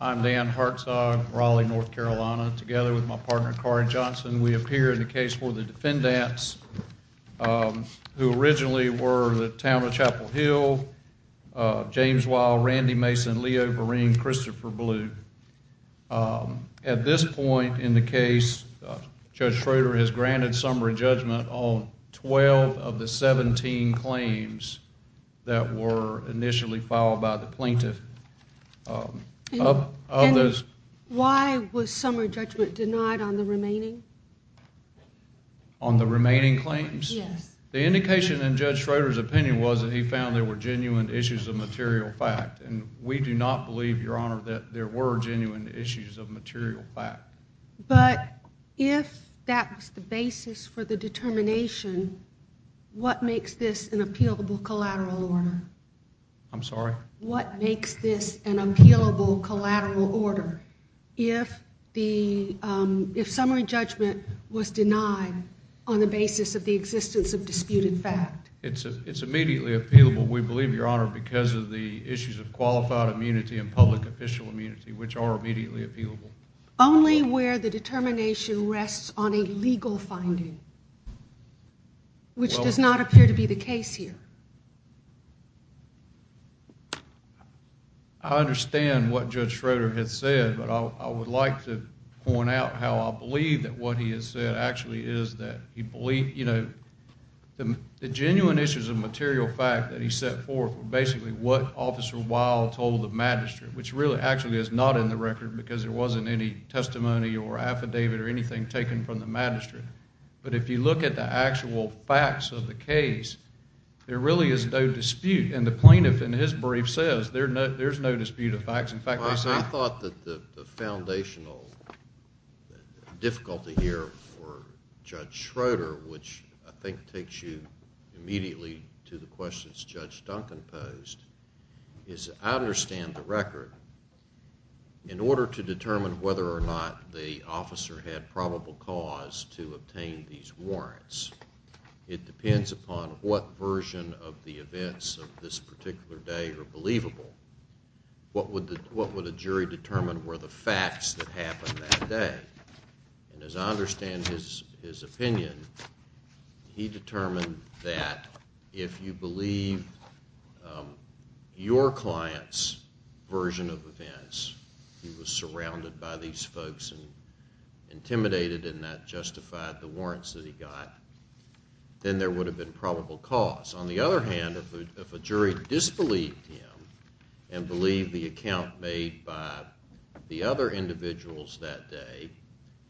I'm Dan Hartzog, Raleigh, North Carolina. Together with my partner, Carrie Johnson, we appear in the case for the defendants who originally were the Town of Chapel Hill, James Wilde, Randy Mason, Leo Vereen, Christopher Blue. At this point in the case, Judge Schroeder has granted summary judgment on 12 of the 17 claims that were initially filed by the plaintiff. And why was summary judgment denied on the remaining? On the remaining claims? Yes. The indication in Judge Schroeder's opinion was that he found there were genuine issues of material fact, and we do not believe, Your Honor, that there were genuine issues of material fact. But if that was the basis for the determination, what makes this an appealable collateral order? I'm sorry? What makes this an appealable collateral order if summary judgment was denied on the basis of the existence of disputed fact? It's immediately appealable, we believe, Your Honor, because of the issues of qualified immunity and public official immunity, which are immediately appealable. Only where the determination rests on a legal finding, which does not appear to be the case here. I understand what Judge Schroeder has said, but I would like to point out how I believe that what he has said actually is that he believed, you know, the genuine issues of material fact that he set forth were basically what Officer Wilde told the magistrate, which really actually is not in the record because there wasn't any testimony or affidavit or anything taken from the magistrate. But if you look at the actual facts of the case, there really is no dispute. And the plaintiff in his brief says there's no dispute of facts. I thought that the foundational difficulty here for Judge Schroeder, which I think takes you immediately to the questions Judge Duncan posed, is I understand the record. In order to determine whether or not the officer had probable cause to obtain these warrants, it depends upon what version of the events of this particular day are believable. What would a jury determine were the facts that happened that day? And as I understand his opinion, he determined that if you believe your client's version of events, he was surrounded by these folks and intimidated and that justified the warrants that he got, then there would have been probable cause. On the other hand, if a jury disbelieved him and believed the account made by the other individuals that day,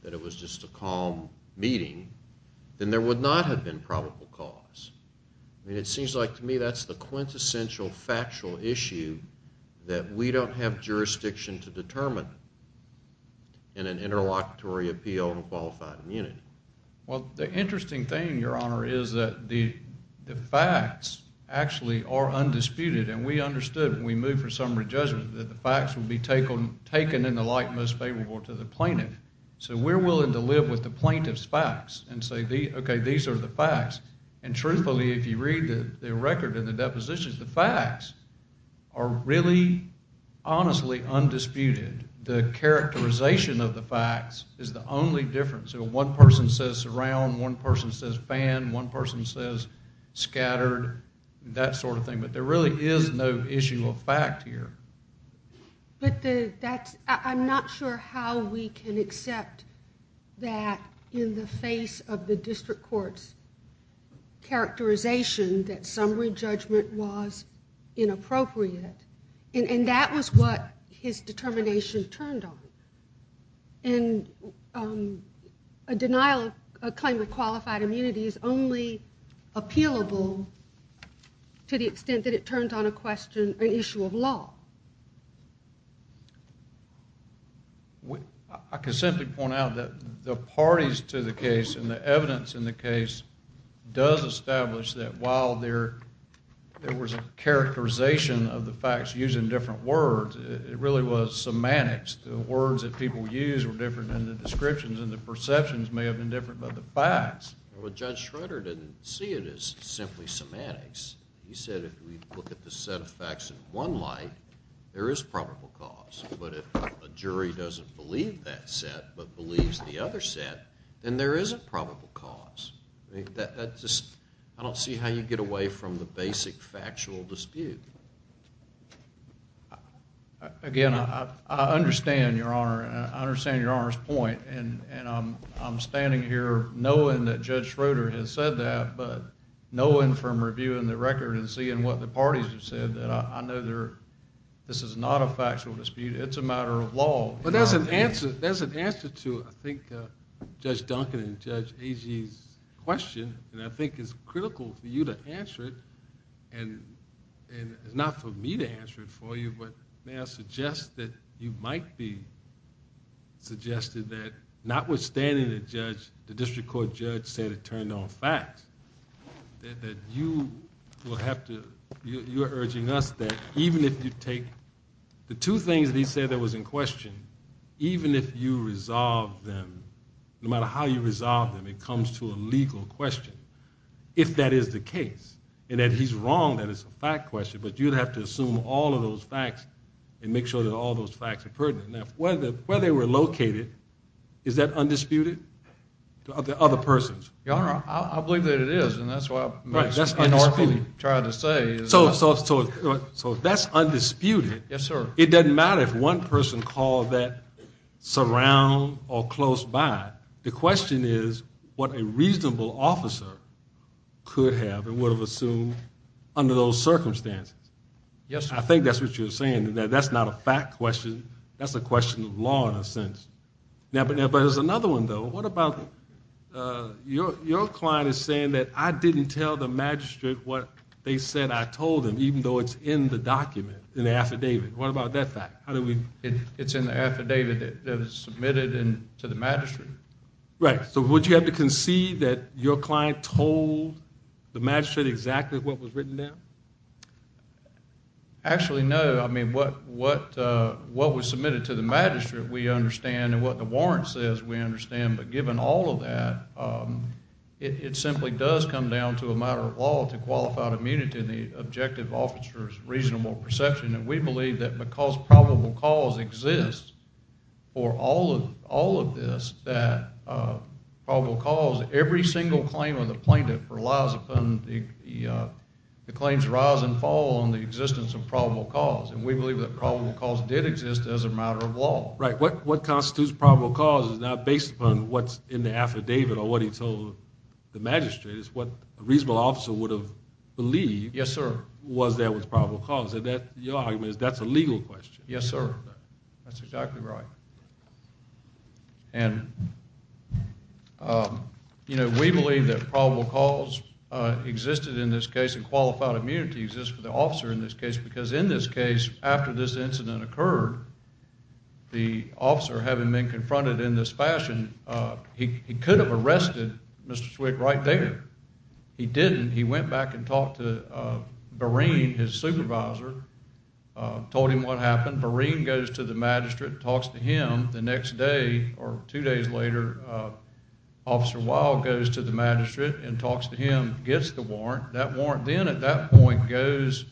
that it was just a calm meeting, then there would not have been probable cause. I mean, it seems like to me that's the quintessential factual issue that we don't have jurisdiction to determine in an interlocutory appeal in a qualified immunity. Well, the interesting thing, Your Honor, is that the facts actually are undisputed, and we understood when we moved for summary judgment that the facts would be taken in the light most favorable to the plaintiff. So we're willing to live with the plaintiff's facts and say, okay, these are the facts. And truthfully, if you read the record and the depositions, the facts are really honestly undisputed. The characterization of the facts is the only difference. One person says surround, one person says ban, one person says scattered, that sort of thing. But there really is no issue of fact here. But I'm not sure how we can accept that in the face of the district court's characterization that summary judgment was inappropriate. And that was what his determination turned on. And a claim of qualified immunity is only appealable to the extent that it turned on an issue of law. I can simply point out that the parties to the case and the evidence in the case does establish that while there was a characterization of the facts used in different words, it really was semantics. The words that people used were different than the descriptions, and the perceptions may have been different than the facts. Well, Judge Schroeder didn't see it as simply semantics. He said if we look at the set of facts in one light, there is probable cause. But if a jury doesn't believe that set but believes the other set, then there is a probable cause. I don't see how you get away from the basic factual dispute. Again, I understand, Your Honor, and I understand Your Honor's point. And I'm standing here knowing that Judge Schroeder has said that, but knowing from reviewing the record and seeing what the parties have said, that I know this is not a factual dispute. It's a matter of law. But there's an answer to, I think, Judge Duncan and Judge Agee's question, and I think it's critical for you to answer it. And it's not for me to answer it for you, but may I suggest that you might be suggested that, notwithstanding the district court judge said it turned on facts, that you are urging us that even if you take the two things that he said that was in question, even if you resolve them, no matter how you resolve them, it comes to a legal question, if that is the case, and that he's wrong that it's a fact question, but you'd have to assume all of those facts and make sure that all those facts are pertinent. Now, where they were located, is that undisputed to other persons? Your Honor, I believe that it is, and that's what I tried to say. So that's undisputed. Yes, sir. It doesn't matter if one person called that surround or close by. The question is what a reasonable officer could have and would have assumed under those circumstances. Yes, sir. I think that's what you're saying, that that's not a fact question. That's a question of law in a sense. But there's another one, though. What about your client is saying that I didn't tell the magistrate what they said I told them, even though it's in the document, in the affidavit. What about that fact? It's in the affidavit that was submitted to the magistrate. Right. So would you have to concede that your client told the magistrate exactly what was written there? Actually, no. I mean, what was submitted to the magistrate we understand, and what the warrant says we understand. But given all of that, it simply does come down to a matter of law to qualify immunity in the objective officer's reasonable perception. And we believe that because probable cause exists for all of this, that probable cause, every single claim of the plaintiff relies upon the claims rise and fall on the existence of probable cause. Right. What constitutes probable cause is not based upon what's in the affidavit or what he told the magistrate. It's what a reasonable officer would have believed was there was probable cause. Your argument is that's a legal question. Yes, sir. That's exactly right. And we believe that probable cause existed in this case and qualified immunity exists for the officer in this case because in this case, after this incident occurred, the officer having been confronted in this fashion, he could have arrested Mr. Swick right there. He didn't. He went back and talked to Boreen, his supervisor, told him what happened. Boreen goes to the magistrate and talks to him. The next day or two days later, that warrant then at that point goes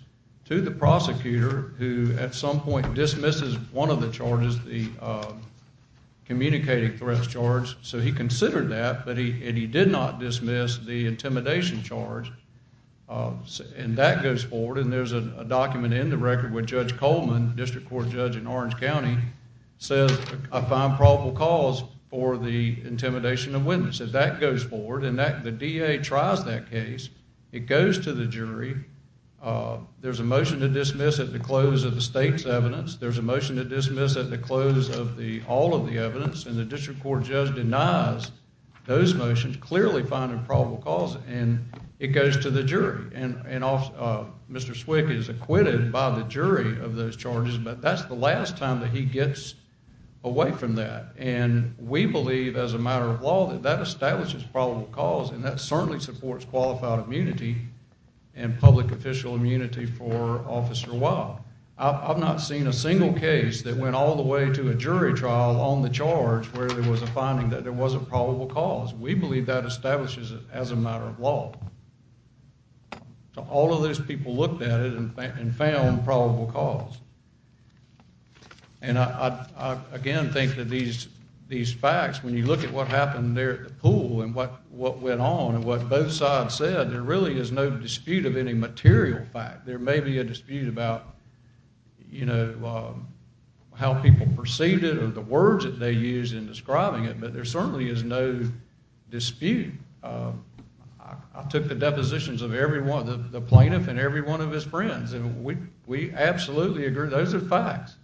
to the prosecutor who at some point dismisses one of the charges, the communicating threats charge. So he considered that, and he did not dismiss the intimidation charge. And that goes forward, and there's a document in the record where Judge Coleman, district court judge in Orange County, says I find probable cause for the intimidation of witness. If that goes forward and the DA tries that case, it goes to the jury. There's a motion to dismiss at the close of the state's evidence. There's a motion to dismiss at the close of all of the evidence, and the district court judge denies those motions, clearly finding probable cause, and it goes to the jury. And Mr. Swick is acquitted by the jury of those charges, but that's the last time that he gets away from that. And we believe as a matter of law that that establishes probable cause, and that certainly supports qualified immunity and public official immunity for Officer Wah. I've not seen a single case that went all the way to a jury trial on the charge where there was a finding that there was a probable cause. We believe that establishes it as a matter of law. All of those people looked at it and found probable cause. And I, again, think that these facts, when you look at what happened there at the pool and what went on and what both sides said, there really is no dispute of any material fact. There may be a dispute about, you know, how people perceived it or the words that they used in describing it, but there certainly is no dispute. I took the depositions of the plaintiff and every one of his friends, and we absolutely agree those are facts.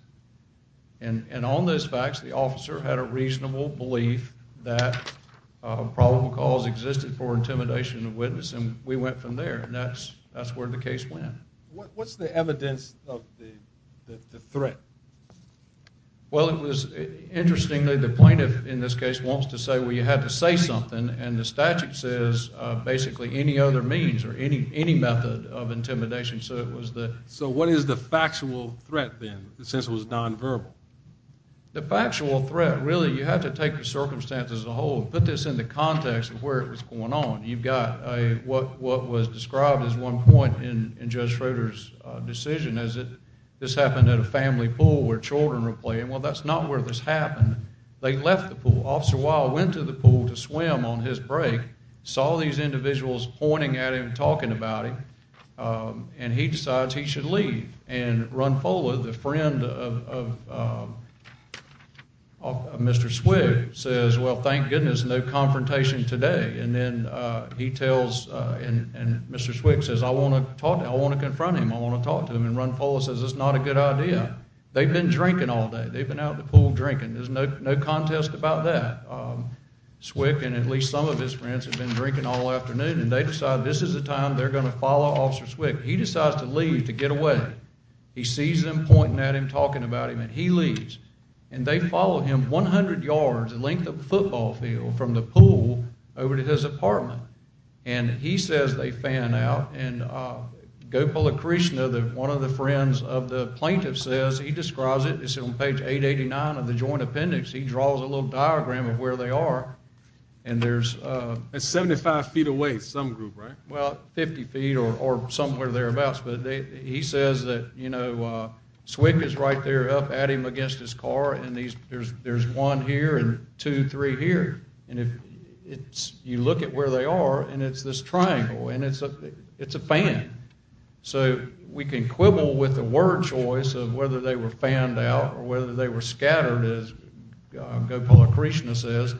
And on those facts, the officer had a reasonable belief that a probable cause existed for intimidation of witness, and we went from there, and that's where the case went. What's the evidence of the threat? Well, interestingly, the plaintiff in this case wants to say, well, you had to say something, and the statute says basically any other means or any method of intimidation. So what is the factual threat, then, since it was nonverbal? The factual threat, really, you have to take the circumstances as a whole and put this into context of where it was going on. You've got what was described at one point in Judge Schroeder's decision as this happened at a family pool where children were playing. Well, that's not where this happened. They left the pool. Officer Weil went to the pool to swim on his break, saw these individuals pointing at him, talking about him, and he decides he should leave. And Runfola, the friend of Mr. Swick, says, well, thank goodness, no confrontation today. And then he tells and Mr. Swick says, I want to talk to him. I want to confront him. I want to talk to him. And Runfola says, that's not a good idea. They've been drinking all day. They've been out in the pool drinking. There's no contest about that. Swick and at least some of his friends have been drinking all afternoon, and they decide this is the time they're going to follow Officer Swick. He decides to leave, to get away. He sees them pointing at him, talking about him, and he leaves. And they follow him 100 yards, the length of the football field, from the pool over to his apartment. And he says they fan out, and Gopalakrishna, one of the friends of the plaintiff, says, he describes it. It's on page 889 of the joint appendix. He draws a little diagram of where they are. It's 75 feet away, some group, right? Well, 50 feet or somewhere thereabouts. But he says that, you know, Swick is right there up at him against his car, and there's one here and two, three here. And you look at where they are, and it's this triangle, and it's a fan. So we can quibble with the word choice of whether they were fanned out or whether they were scattered, as Gopalakrishna says,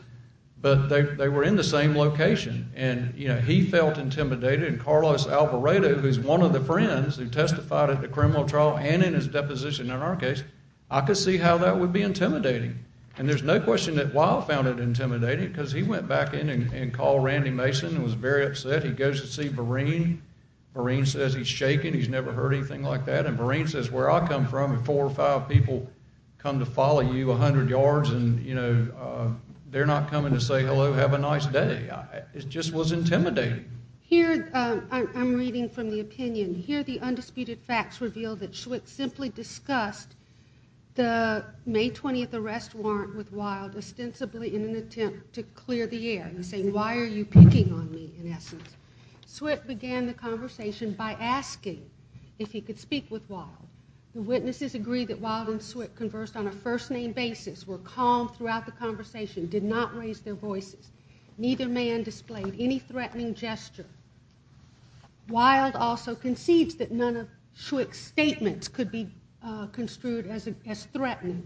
but they were in the same location. And, you know, he felt intimidated, and Carlos Alvarado, who's one of the friends who testified at the criminal trial and in his deposition in our case, I could see how that would be intimidating. And there's no question that Weil found it intimidating because he went back in and called Randy Mason and was very upset. He goes to see Vereen. Vereen says he's shaken, he's never heard anything like that. And Vereen says, Where I come from, four or five people come to follow you 100 yards, and, you know, they're not coming to say hello, have a nice day. It just was intimidating. Here I'm reading from the opinion. Here the undisputed facts reveal that Swick simply discussed the May 20th arrest warrant with Weil ostensibly in an attempt to clear the air. He's saying, Why are you picking on me, in essence? Swick began the conversation by asking if he could speak with Weil. The witnesses agree that Weil and Swick conversed on a first-name basis, were calm throughout the conversation, did not raise their voices. Neither man displayed any threatening gesture. Weil also concedes that none of Swick's statements could be construed as threatening.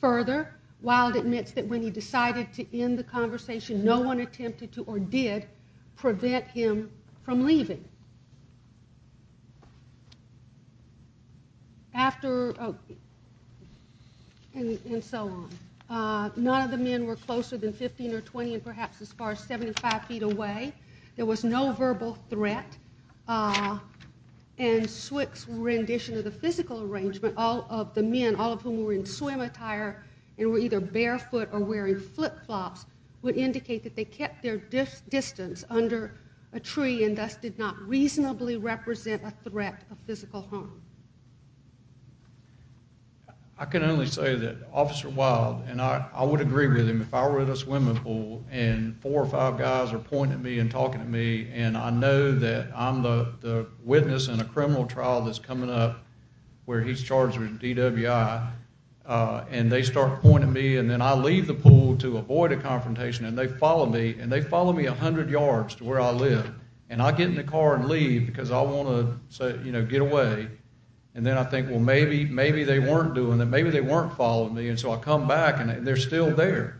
Further, Weil admits that when he decided to end the conversation, no one attempted to or did prevent him from leaving. After, and so on. None of the men were closer than 15 or 20 and perhaps as far as 75 feet away. There was no verbal threat. And Swick's rendition of the physical arrangement, all of the men, all of whom were in swim attire and were either barefoot or wearing flip-flops, would indicate that they kept their distance under a tree and thus did not reasonably represent a threat of physical harm. I can only say that Officer Weil, and I would agree with him, if I were at a swimming pool and four or five guys are pointing at me and talking to me and I know that I'm the witness in a criminal trial that's coming up where he's charged with DWI, and they start pointing at me and then I leave the pool to avoid a confrontation and they follow me and they follow me 100 yards to where I live. And I get in the car and leave because I want to get away. And then I think, well, maybe they weren't doing that. Maybe they weren't following me. And so I come back and they're still there.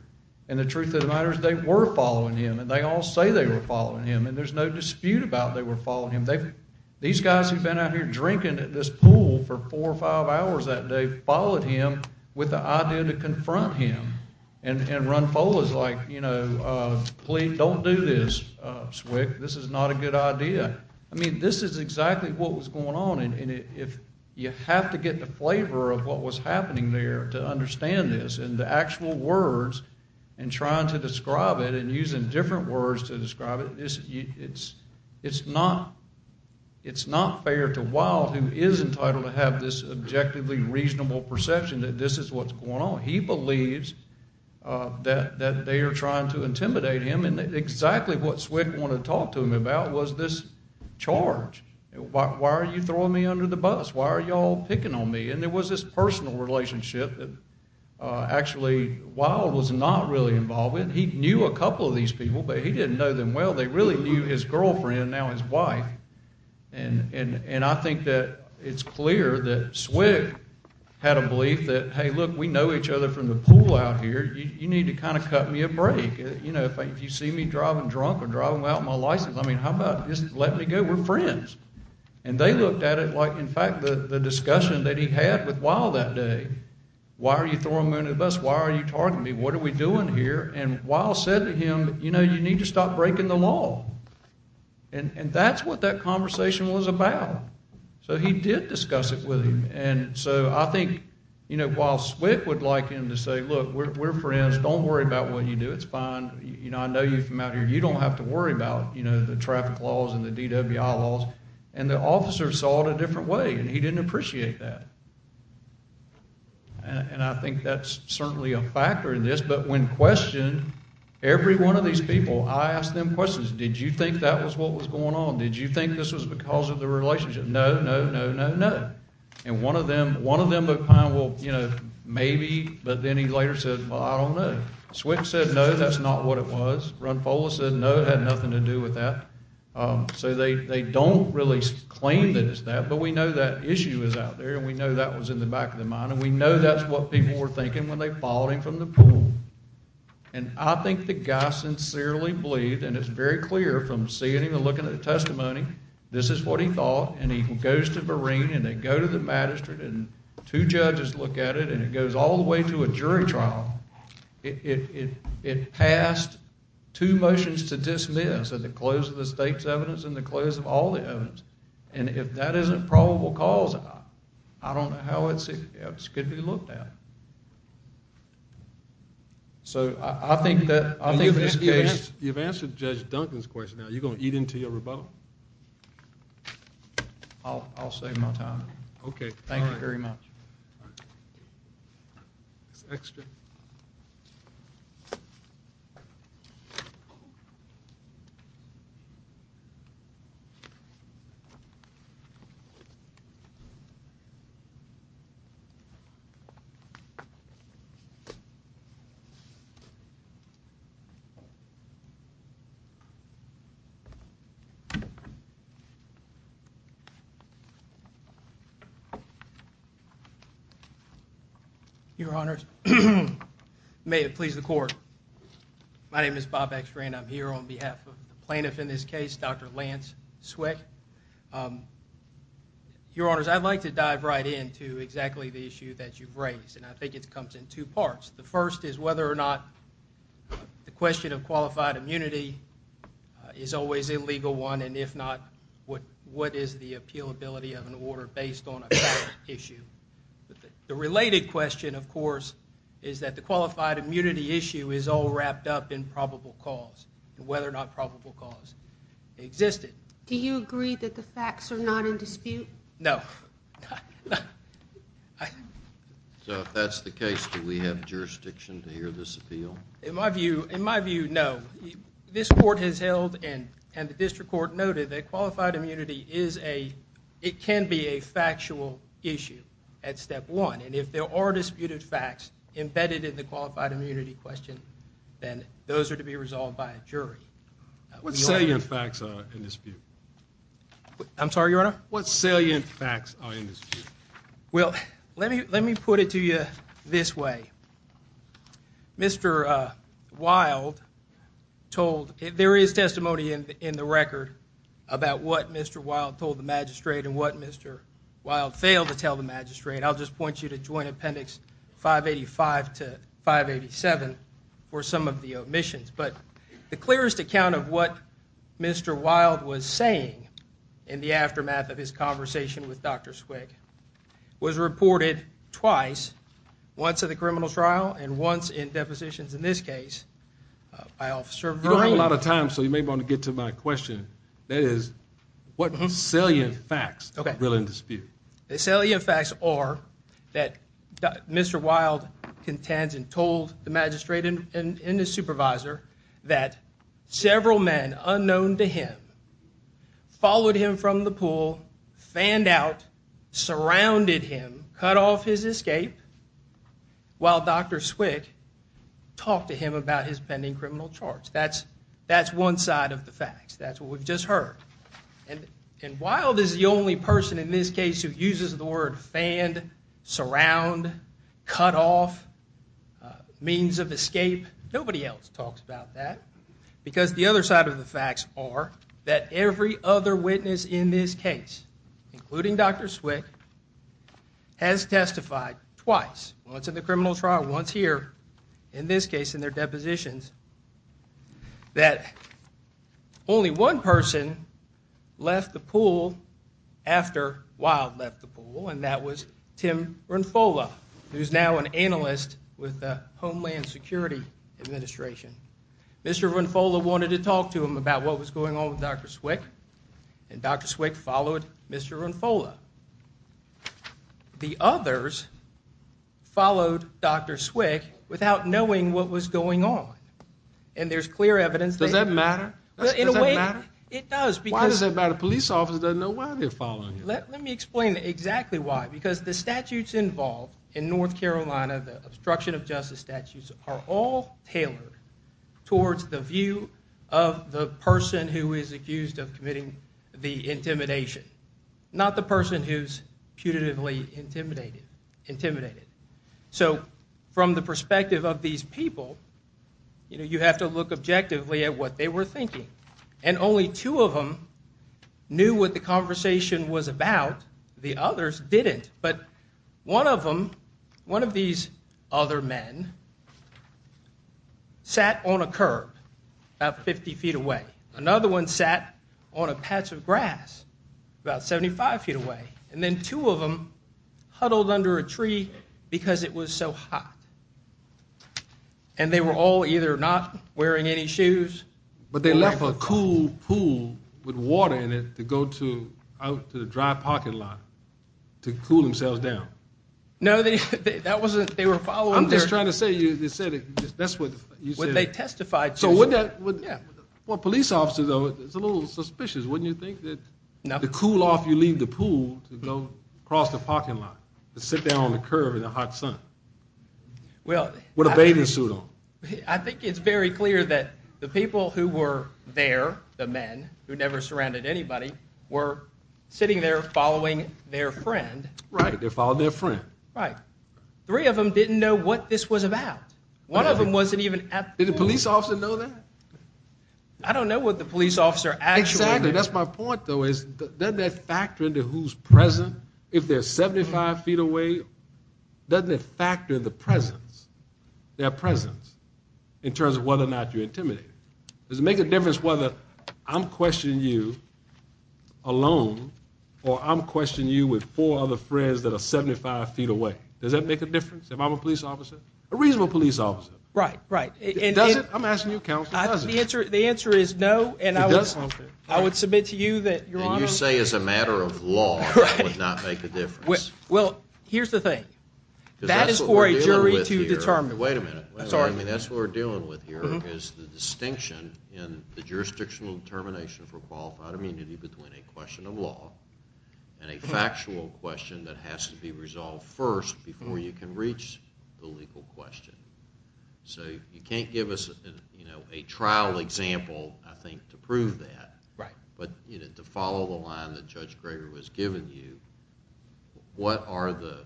And the truth of the matter is they were following him and they all say they were following him and there's no dispute about they were following him. These guys who've been out here drinking at this pool for four or five hours that day followed him with the idea to confront him. And Ron Foley's like, you know, please don't do this, Swick. This is not a good idea. I mean, this is exactly what was going on. And you have to get the flavor of what was happening there to understand this and the actual words and trying to describe it and using different words to describe it. It's not fair to Wilde, who is entitled to have this objectively reasonable perception that this is what's going on. He believes that they are trying to intimidate him and exactly what Swick wanted to talk to him about was this charge. Why are you throwing me under the bus? Why are you all picking on me? And there was this personal relationship that actually Wilde was not really involved with. He knew a couple of these people, but he didn't know them well. They really knew his girlfriend, now his wife. And I think that it's clear that Swick had a belief that, hey, look, we know each other from the pool out here. You need to kind of cut me a break. You know, if you see me driving drunk or driving without my license, I mean, how about just letting me go? We're friends. And they looked at it like, in fact, the discussion that he had with Wilde that day. Why are you throwing me under the bus? Why are you targeting me? What are we doing here? And Wilde said to him, you know, you need to stop breaking the law. And that's what that conversation was about. So he did discuss it with him. And so I think, you know, Wilde Swick would like him to say, look, we're friends. Don't worry about what you do. It's fine. You know, I know you from out here. You don't have to worry about, you know, the traffic laws and the DWI laws. And the officer saw it a different way and he didn't appreciate that. And I think that's certainly a factor in this. But when questioned, every one of these people, I asked them questions. Did you think that was what was going on? Did you think this was because of the relationship? No, no, no, no, no. And one of them looked kind of, well, you know, maybe. But then he later said, well, I don't know. Swick said, no, that's not what it was. Runfola said, no, it had nothing to do with that. So they don't really claim that it's that. But we know that issue is out there. And we know that was in the back of their mind. And we know that's what people were thinking when they followed him from the pool. And I think the guy sincerely believed, and it's very clear from seeing him and looking at the testimony, this is what he thought. And he goes to Vereen and they go to the magistrate and two judges look at it and it goes all the way to a jury trial. It passed two motions to dismiss at the close of the state's evidence and the close of all the evidence. And if that isn't probable cause, I don't know how it's going to be looked at. So I think that's the case. You've answered Judge Duncan's question. Are you going to eat into your rebuttal? I'll save my time. Okay. Thank you very much. It's extra. Your Honors, may it please the Court. My name is Bob Ekstrand. I'm here on behalf of the plaintiff in this case, Dr. Lance Sweck. Your Honors, I'd like to dive right in to exactly the issue that you've raised, and I think it comes in two parts. The first is whether or not the question of qualified immunity is always a legal one, and if not, what is the appealability of an order based on a current issue? The related question, of course, is that the qualified immunity issue is all wrapped up in probable cause and whether or not probable cause existed. Do you agree that the facts are not in dispute? No. So if that's the case, do we have jurisdiction to hear this appeal? In my view, no. This Court has held, and the District Court noted, that qualified immunity can be a factual issue at step one, and if there are disputed facts embedded in the qualified immunity question, then those are to be resolved by a jury. What salient facts are in dispute? I'm sorry, Your Honor? What salient facts are in dispute? Well, let me put it to you this way. Mr. Wilde told, there is testimony in the record about what Mr. Wilde told the magistrate and what Mr. Wilde failed to tell the magistrate. I'll just point you to Joint Appendix 585 to 587 for some of the omissions. But the clearest account of what Mr. Wilde was saying in the aftermath of his conversation with Dr. Swig was reported twice, once at the criminal trial and once in depositions in this case. You don't have a lot of time, so you may want to get to my question. That is, what salient facts are in dispute? The salient facts are that Mr. Wilde contends and told the magistrate and his supervisor that several men unknown to him followed him from the pool, fanned out, surrounded him, cut off his escape, while Dr. Swig talked to him about his pending criminal charge. That's one side of the facts. That's what we've just heard. And Wilde is the only person in this case who uses the word fanned, surround, cut off, means of escape. Nobody else talks about that. Because the other side of the facts are that every other witness in this case, including Dr. Swig, has testified twice, once at the criminal trial, once here, in this case in their depositions, that only one person left the pool after Wilde left the pool, and that was Tim Runfola, who's now an analyst with the Homeland Security Administration. Mr. Runfola wanted to talk to him about what was going on with Dr. Swig, and Dr. Swig followed Mr. Runfola. The others followed Dr. Swig without knowing what was going on. And there's clear evidence that... Does that matter? In a way, it does, because... Why does that matter? A police officer doesn't know why they're following him. Let me explain exactly why, because the statutes involved in North Carolina, the obstruction of justice statutes, are all tailored towards the view of the person who is accused of committing the intimidation, not the person who's putatively intimidated. So from the perspective of these people, you have to look objectively at what they were thinking. And only two of them knew what the conversation was about. The others didn't. But one of them, one of these other men, sat on a curb about 50 feet away. Another one sat on a patch of grass about 75 feet away. And then two of them huddled under a tree because it was so hot. And they were all either not wearing any shoes... But they left a cool pool with water in it to go out to the dry parking lot to cool themselves down. No, they were following their... I'm just trying to say, that's what you said. They testified to... Well, police officers, though, it's a little suspicious. Wouldn't you think that to cool off, you leave the pool to go across the parking lot to sit down on the curb in the hot sun with a bathing suit on? I think it's very clear that the people who were there, the men who never surrounded anybody, were sitting there following their friend. Right, they followed their friend. Right. Three of them didn't know what this was about. One of them wasn't even at the pool. Did the police officer know that? I don't know what the police officer actually knew. Exactly, that's my point, though, is doesn't that factor into who's present? If they're 75 feet away, doesn't it factor the presence, their presence, in terms of whether or not you're intimidating? Does it make a difference whether I'm questioning you alone or I'm questioning you with four other friends that are 75 feet away? Does that make a difference if I'm a police officer? A reasonable police officer. Right, right. Does it? I'm asking you, counsel, does it? The answer is no, and I would submit to you that, Your Honor... And you say as a matter of law it would not make a difference. Well, here's the thing. That is for a jury to determine. Wait a minute, wait a minute. I mean, that's what we're dealing with here is the distinction in the jurisdictional determination for qualified immunity between a question of law and a factual question that has to be resolved first before you can reach the legal question. So you can't give us a trial example, I think, to prove that. Right. But to follow the line that Judge Greger was giving you, what are the...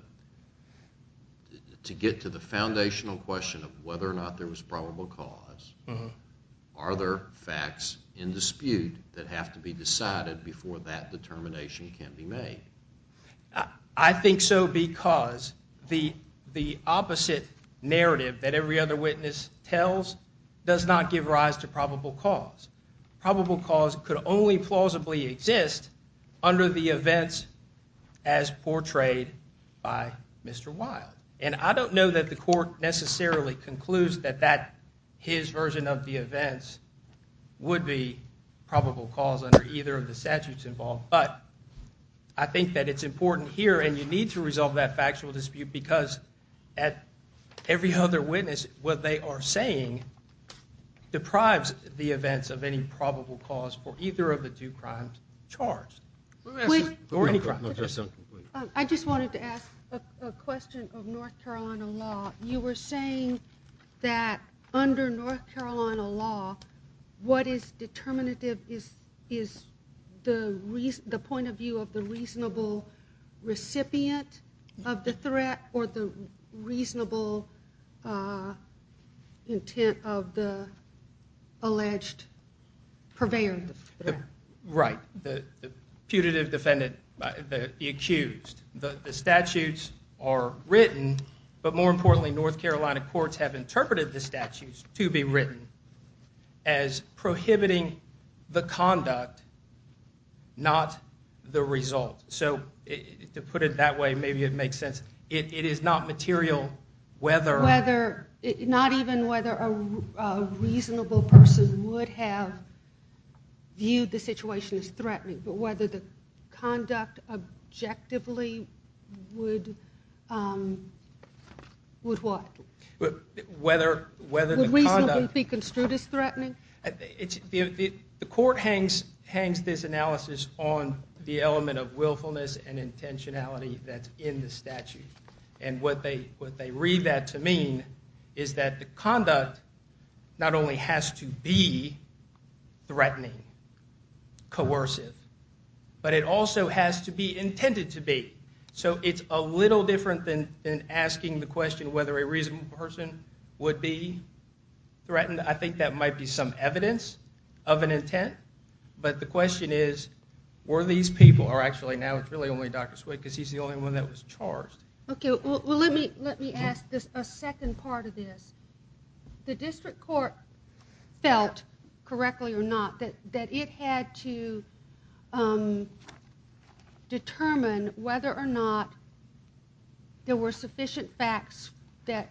To get to the foundational question of whether or not there was probable cause, are there facts in dispute that have to be decided before that determination can be made? I think so because the opposite narrative that every other witness tells does not give rise to probable cause. Probable cause could only plausibly exist under the events as portrayed by Mr. Wilde. And I don't know that the court necessarily concludes that his version of the events would be probable cause under either of the statutes involved, but I think that it's important here, and you need to resolve that factual dispute because every other witness, what they are saying, deprives the events of any probable cause for either of the two crimes charged. Or any crime. I just wanted to ask a question of North Carolina law. You were saying that under North Carolina law, what is determinative is the point of view of the reasonable recipient of the threat or the reasonable intent of the alleged purveyor of the threat. Right. The putative defendant, the accused. The statutes are written, but more importantly, North Carolina courts have interpreted the statutes to be written as prohibiting the conduct, not the result. So to put it that way, maybe it makes sense. It is not material whether... Not even whether a reasonable person would have viewed the situation as threatening, but whether the conduct objectively would... Would what? Whether the conduct... Would reasonably be construed as threatening? The court hangs this analysis on the element of willfulness and intentionality that's in the statute, and what they read that to mean is that the conduct not only has to be threatening, coercive, but it also has to be intended to be. So it's a little different than asking the question whether a reasonable person would be threatened. I think that might be some evidence of an intent, but the question is were these people... Actually, now it's really only Dr. Swick because he's the only one that was charged. Okay, well, let me ask a second part of this. The district court felt, correctly or not, that it had to determine whether or not there were sufficient facts that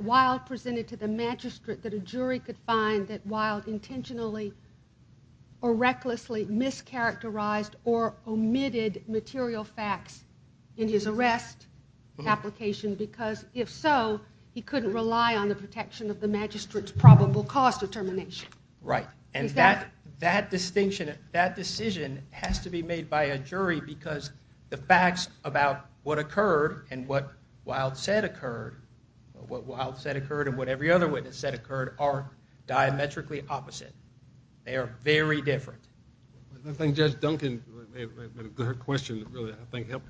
Wild presented to the magistrate that a jury could find that Wild intentionally or recklessly mischaracterized or omitted material facts in his arrest application, because if so, he couldn't rely on the protection of the magistrate's probable cause determination. Right, and that decision has to be made by a jury because the facts about what occurred and what Wild said occurred, what Wild said occurred and what every other witness said occurred, are diametrically opposite. They are very different. I think Judge Duncan... Her question really helped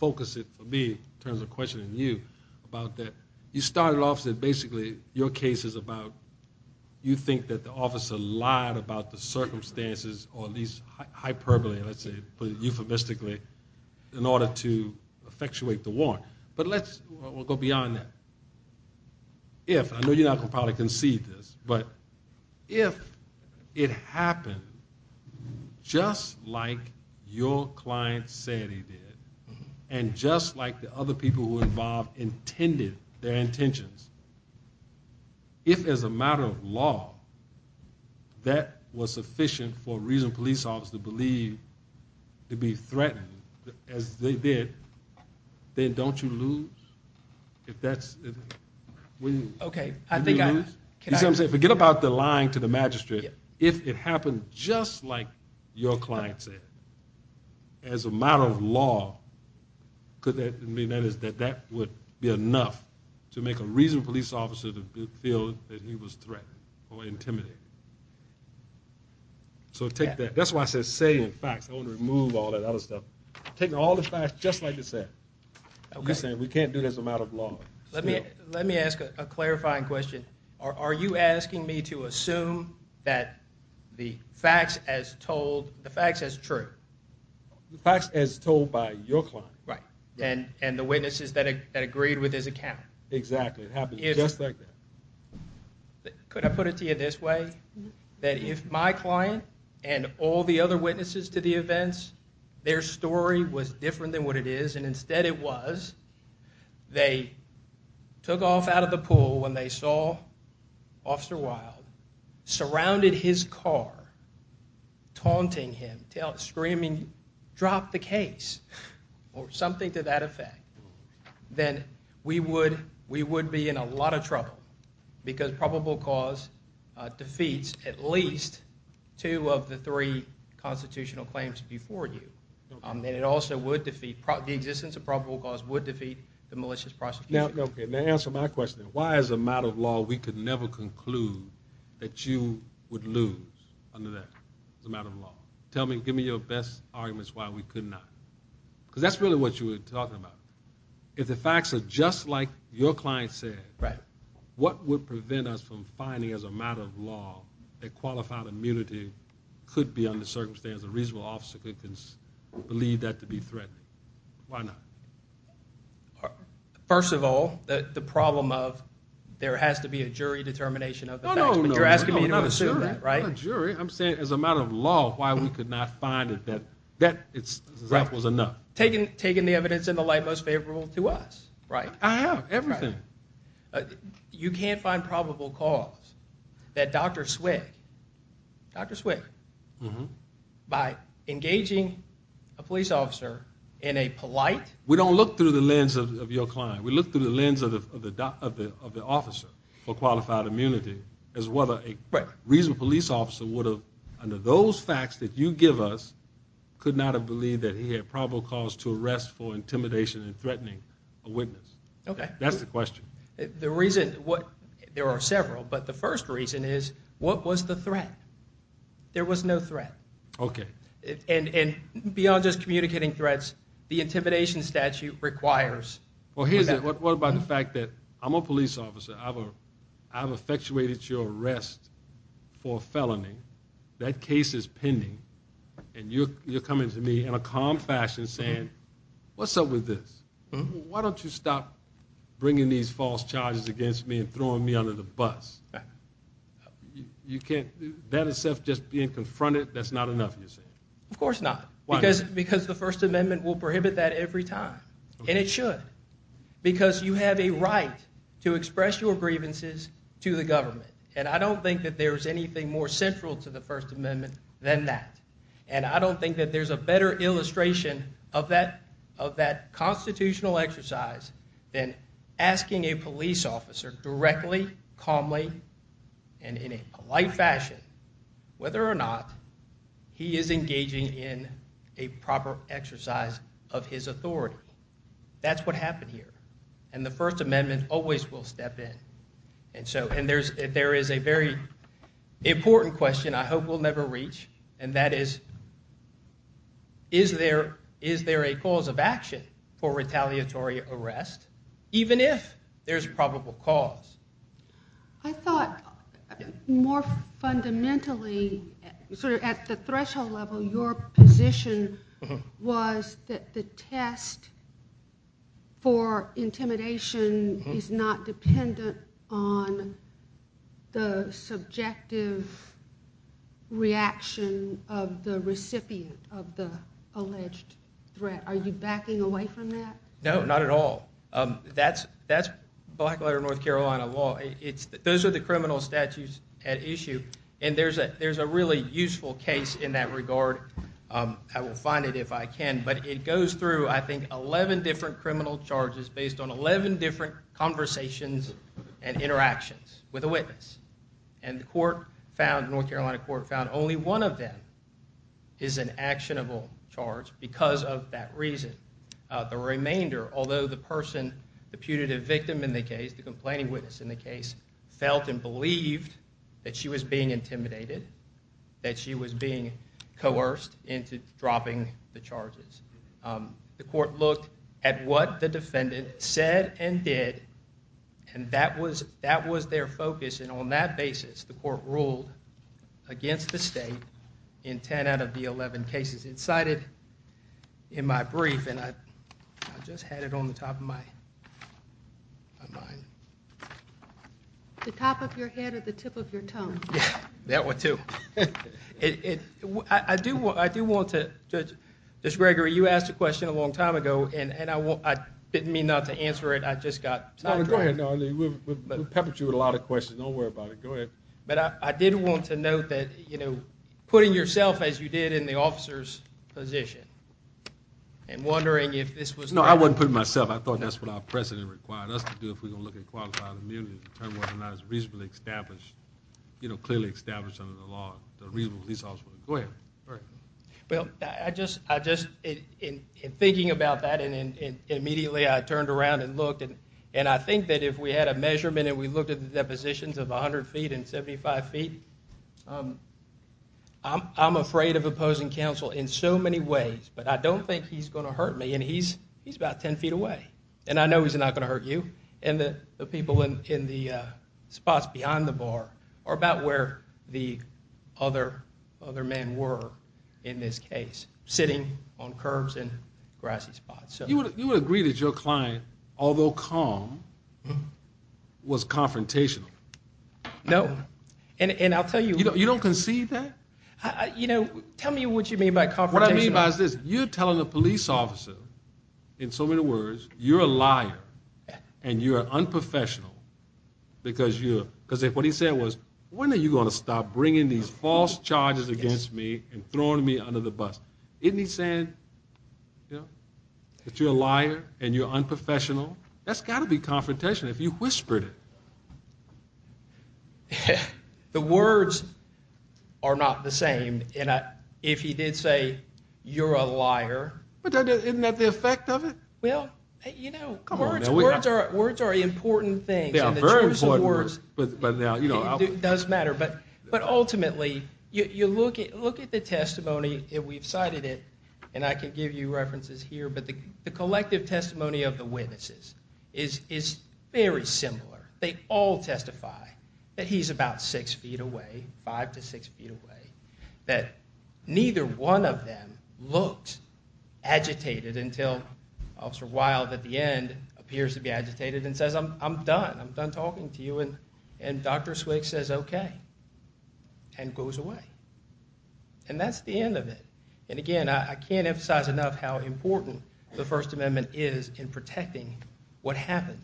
focus it for me in terms of questioning you about that. You started off saying basically your case is about you think that the officer lied about the circumstances or at least hyperbole, let's say euphemistically, in order to effectuate the warrant. But let's go beyond that. If, I know you're not going to probably concede this, but if it happened just like your client said he did and just like the other people who were involved intended their intentions, if as a matter of law that was sufficient for a reasonable police officer to believe to be threatened as they did, then don't you lose? If that's... Forget about the lying to the magistrate. If it happened just like your client said, as a matter of law, could that mean that that would be enough to make a reasonable police officer feel that he was threatened or intimidated? So take that. That's why I said say and facts. I don't want to remove all that other stuff. Take all the facts just like you said. You said we can't do this as a matter of law. Let me ask a clarifying question. Are you asking me to assume that the facts as told... The facts as true? The facts as told by your client. Right. And the witnesses that agreed with his account. Exactly. It happened just like that. Could I put it to you this way? That if my client and all the other witnesses to the events, their story was different than what it is and instead it was, they took off out of the pool when they saw Officer Wild surrounded his car, taunting him, screaming drop the case or something to that effect, then we would be in a lot of trouble because probable cause defeats at least two of the three constitutional claims before you. And it also would defeat... It would defeat the malicious prosecution. Now answer my question. Why as a matter of law we could never conclude that you would lose under that as a matter of law? Tell me, give me your best arguments why we could not. Because that's really what you were talking about. If the facts are just like your client said, what would prevent us from finding as a matter of law that qualified immunity could be under circumstance a reasonable obstacle that can lead that to be threatened? Why not? First of all, the problem of there has to be a jury determination of the facts. You're asking me to assume that, right? I'm saying as a matter of law why we could not find it. That was enough. Taking the evidence in the light most favorable to us, right? I have, everything. You can't find probable cause that Dr. Swick, Dr. Swick, by engaging a police officer in a polite... We don't look through the lens of your client. We look through the lens of the officer for qualified immunity as whether a reasonable police officer would have, under those facts that you give us, could not have believed that he had probable cause to arrest for intimidation and threatening a witness. That's the question. The reason, there are several, but the first reason is what was the threat? There was no threat. Okay. And beyond just communicating threats, the intimidation statute requires... What about the fact that I'm a police officer, I've effectuated your arrest for a felony, that case is pending, and you're coming to me in a calm fashion saying, what's up with this? Why don't you stop bringing these false charges against me and throwing me under the bus? That itself just being confronted, that's not enough, you say? Of course not, because the First Amendment will prohibit that every time, and it should, because you have a right to express your grievances to the government, and I don't think that there's anything more central to the First Amendment than that, and I don't think that there's a better illustration of that constitutional exercise than asking a police officer directly, calmly, and in a polite fashion whether or not he is engaging in a proper exercise of his authority. That's what happened here, and the First Amendment always will step in, and there is a very important question I hope we'll never reach, and that is, is there a cause of action for retaliatory arrest, even if there's probable cause? I thought more fundamentally, sort of at the threshold level, your position was that the test for intimidation is not dependent on the subjective reaction of the recipient of the alleged threat. Are you backing away from that? No, not at all. That's black-letter North Carolina law. Those are the criminal statutes at issue, and there's a really useful case in that regard. I will find it if I can, but it goes through, I think, 11 different criminal charges based on 11 different conversations and interactions with a witness, and the North Carolina court found only one of them is an actionable charge because of that reason. The remainder, although the person, the punitive victim in the case, the complaining witness in the case, felt and believed that she was being intimidated, that she was being coerced into dropping the charges. The court looked at what the defendant said and did, and that was their focus, and on that basis the court ruled against the state in 10 out of the 11 cases. It's cited in my brief, and I just had it on the top of my mind. The top of your head or the tip of your tongue? That one, too. I do want to, Judge Gregory, you asked a question a long time ago, and I didn't mean not to answer it. I just got sidetracked. No, go ahead. We'll pepper you with a lot of questions. Don't worry about it. Go ahead. But I did want to note that putting yourself, as you did in the officer's position, and wondering if this was... No, I wasn't putting myself. I thought that's what our precedent required us to do if we're going to look at qualified immunity reasonably established, you know, clearly established under the law. Go ahead. Well, I just, in thinking about that, and immediately I turned around and looked, and I think that if we had a measurement and we looked at the depositions of 100 feet and 75 feet, I'm afraid of opposing counsel in so many ways, but I don't think he's going to hurt me, and he's about 10 feet away, and I know he's not going to hurt you and the people in the spots behind the bar are about where the other men were in this case, sitting on curbs and grassy spots. You would agree that your client, although calm, was confrontational? No, and I'll tell you... You don't concede that? You know, tell me what you mean by confrontational. What I mean by this, you're telling a police officer, in so many words, you're a liar and you're unprofessional because what he said was, when are you going to stop bringing these false charges against me and throwing me under the bus? Isn't he saying that you're a liar and you're unprofessional? That's got to be confrontational if you whispered it. The words are not the same. If he did say, you're a liar... Isn't that the effect of it? Well, you know, words are important things. Very important words. It does matter, but ultimately, you look at the testimony and we've cited it, and I can give you references here, but the collective testimony of the witnesses is very similar. They all testify that he's about 6 feet away, 5 to 6 feet away, that neither one of them looked agitated until Officer Wilde at the end appears to be agitated and says, I'm done, I'm done talking to you, and Dr. Swick says, okay, and goes away. And that's the end of it. And again, I can't emphasize enough how important the First Amendment is in protecting what happened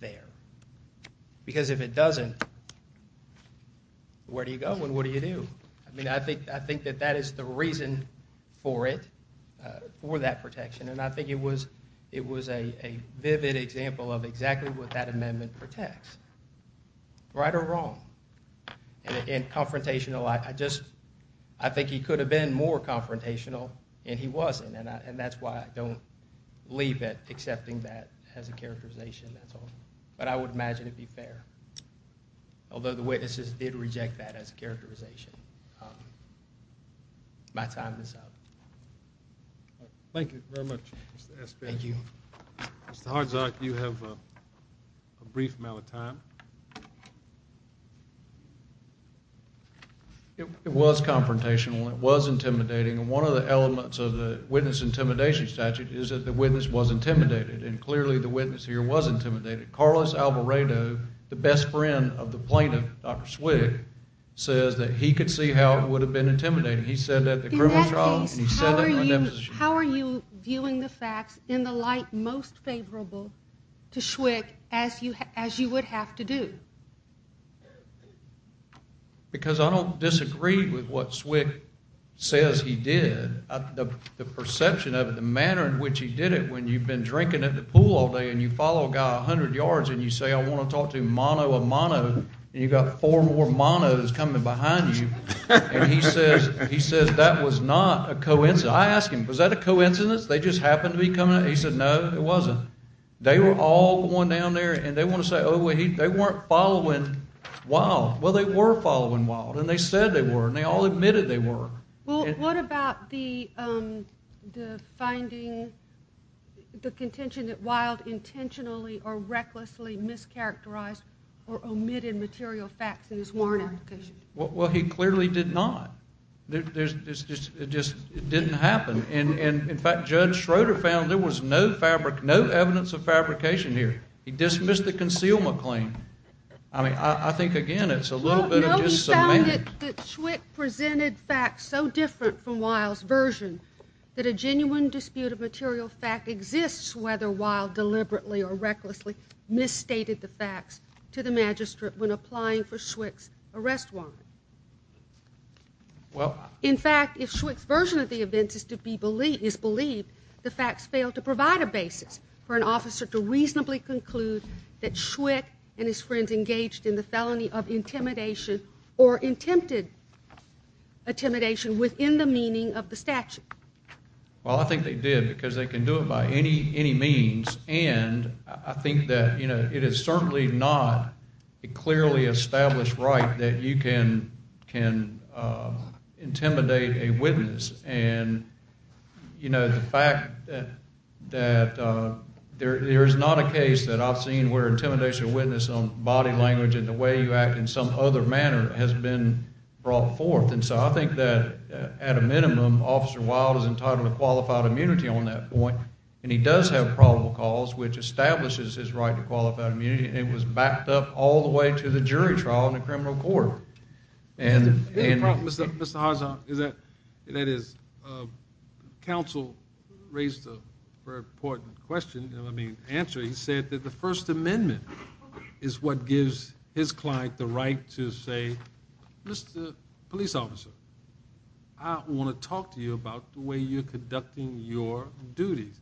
there, because if it doesn't, where do you go and what do you do? I mean, I think that that is the reason for it, for that protection, and I think it was a vivid example of exactly what that amendment protects, right or wrong. And confrontational, I just, I think he could have been more confrontational and he wasn't, and that's why I don't leave it accepting that as a characterization. That's all. But I would imagine it'd be fair, although the witnesses did reject that as a characterization. My time is up. Thank you very much, Mr. Espaillat. Thank you. Mr. Hardzak, you have a brief amount of time. It was confrontational and it was intimidating, and one of the elements of the witness intimidation statute is that the witness was intimidated, and clearly the witness here was intimidated. Carlos Alvarado, the best friend of the plaintiff, Dr. Schwick, says that he could see how it would have been intimidating. He said that the criminal trial and he said that the indemnification. How are you viewing the facts in the light most favorable to Schwick as you would have to do? Because I don't disagree with what Schwick says he did. The perception of it, the manner in which he did it, when you've been drinking at the pool all day and you follow a guy 100 yards and you say, I want to talk to him mano a mano, and you've got four more manos coming behind you, and he says that was not a coincidence. I asked him, was that a coincidence? They just happened to be coming? He said, no, it wasn't. They were all going down there, and they want to say, oh, they weren't following Wilde. Well, they were following Wilde, and they said they were, and they all admitted they were. Well, what about the finding, the contention that Wilde intentionally or recklessly mischaracterized or omitted material facts in his warrant application? Well, he clearly did not. It just didn't happen. In fact, Judge Schroeder found there was no fabric, no evidence of fabrication here. He dismissed the concealment claim. I mean, I think, again, it's a little bit of just cement. He found that Schwick presented facts so different from Wilde's version that a genuine dispute of material fact exists whether Wilde deliberately or recklessly misstated the facts to the magistrate when applying for Schwick's arrest warrant. In fact, if Schwick's version of the events is believed, the facts fail to provide a basis for an officer to reasonably conclude that Schwick and his friends engaged in the felony of intimidation or attempted intimidation within the meaning of the statute. Well, I think they did because they can do it by any means, and I think that it is certainly not a clearly established right that you can intimidate a witness, and the fact that there is not a case that I've seen where intimidation of a witness on body language and the way you act in some other manner has been brought forth, and so I think that at a minimum, Officer Wilde is entitled to qualified immunity on that point, and he does have probable cause, which establishes his right to qualified immunity, and it was backed up all the way to the jury trial in the criminal court. Mr. Hodgson, that is, counsel raised a very important question, and I mean answer. He said that the First Amendment is what gives his client the right to say, Mr. Police Officer, I want to talk to you about the way you're conducting your duties.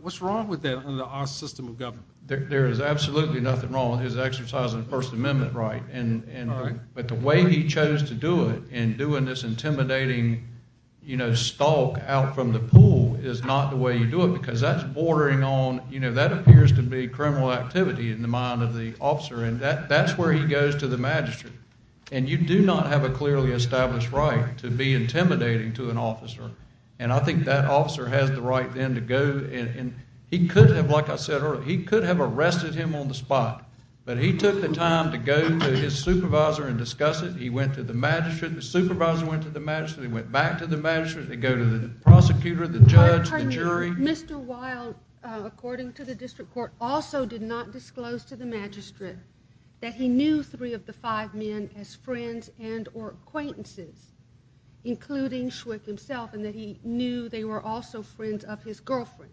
What's wrong with that under our system of government? There is absolutely nothing wrong with his exercising the First Amendment right, but the way he chose to do it in doing this intimidating stalk out from the pool is not the way you do it because that's bordering on, that appears to be criminal activity in the mind of the officer, and that's where he goes to the magistrate, and you do not have a clearly established right to be intimidating to an officer, and I think that officer has the right then to go, and he could have, like I said earlier, he could have arrested him on the spot, but he took the time to go to his supervisor and discuss it. He went to the magistrate. The supervisor went to the magistrate. He went back to the magistrate. They go to the prosecutor, the judge, the jury. Mr. Wilde, according to the district court, also did not disclose to the magistrate that he knew three of the five men as friends and or acquaintances, including Schwick himself, and that he knew they were also friends of his girlfriend.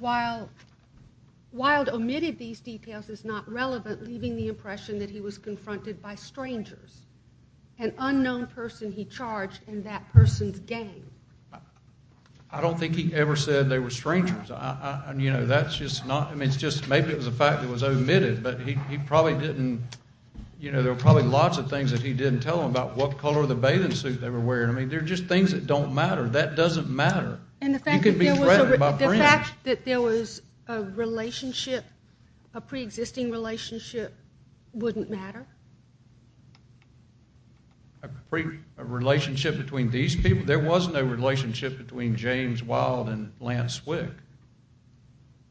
Wilde omitted these details. It's not relevant, leaving the impression that he was confronted by strangers, an unknown person he charged in that person's gang. I don't think he ever said they were strangers. You know, that's just not, I mean, it's just maybe it was a fact that was omitted, but he probably didn't, you know, there were probably lots of things that he didn't tell them about what color of the bathing suit they were wearing. I mean, they're just things that don't matter. That doesn't matter. You could be threatened by friends. And the fact that there was a relationship, a preexisting relationship, wouldn't matter? A relationship between these people? There was no relationship between James Wilde and Lance Schwick.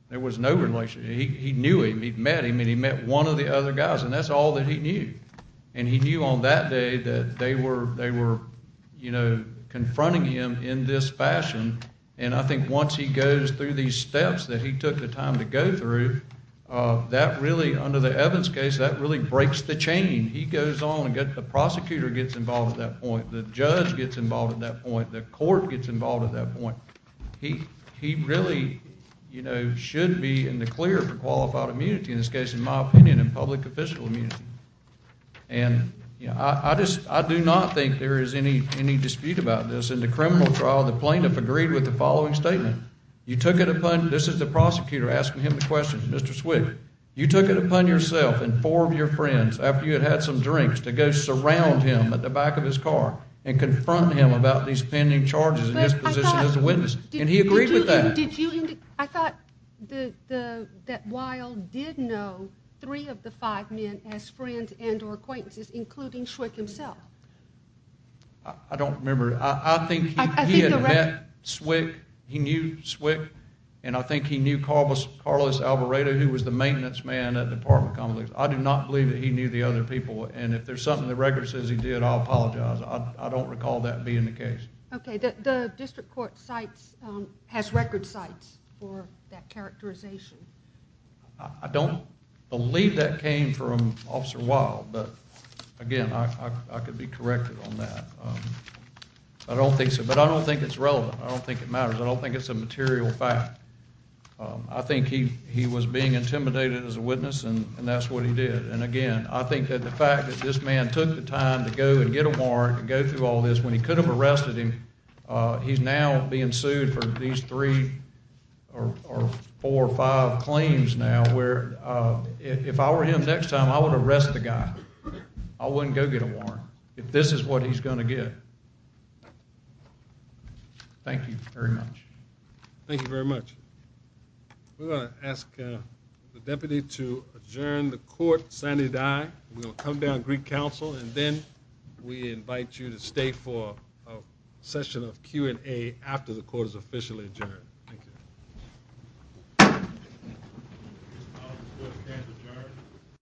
There was no relationship. He knew him, he'd met him, and he met one of the other guys, and that's all that he knew. And he knew on that day that they were, you know, confronting him in this fashion, and I think once he goes through these steps that he took the time to go through, that really, under the Evans case, that really breaks the chain. He goes on and the prosecutor gets involved at that point, the judge gets involved at that point, the court gets involved at that point. He really, you know, should be in the clear for qualified immunity, in this case, in my opinion, in public official immunity. And, you know, I do not think there is any dispute about this. In the criminal trial, the plaintiff agreed with the following statement. You took it upon, this is the prosecutor asking him the question, Mr. Schwick, you took it upon yourself and four of your friends, after you had had some drinks, to go surround him at the back of his car and confront him about these pending charges in his position as a witness. And he agreed with that. I thought that Wilde did know three of the five men as friends and or acquaintances, including Schwick himself. I don't remember. I think he had met Schwick, he knew Schwick, and I think he knew Carlos Alvaredo, who was the maintenance man at the apartment complex. I do not believe that he knew the other people, and if there's something the record says he did, I apologize. I don't recall that being the case. Okay. The district court has record sites for that characterization. I don't believe that came from Officer Wilde, but, again, I could be corrected on that. But I don't think it's relevant. I don't think it matters. I don't think it's a material fact. I think he was being intimidated as a witness, and that's what he did. And, again, I think that the fact that this man took the time to go and get a warrant and go through all this, when he could have arrested him, he's now being sued for these three or four or five claims now, where if I were him next time, I would arrest the guy. I wouldn't go get a warrant, if this is what he's going to get. Thank you very much. Thank you very much. We're going to ask the deputy to adjourn the court sanity die. We're going to come down to Greek Council, and then we invite you to stay for a session of Q&A after the court is officially adjourned. Thank you.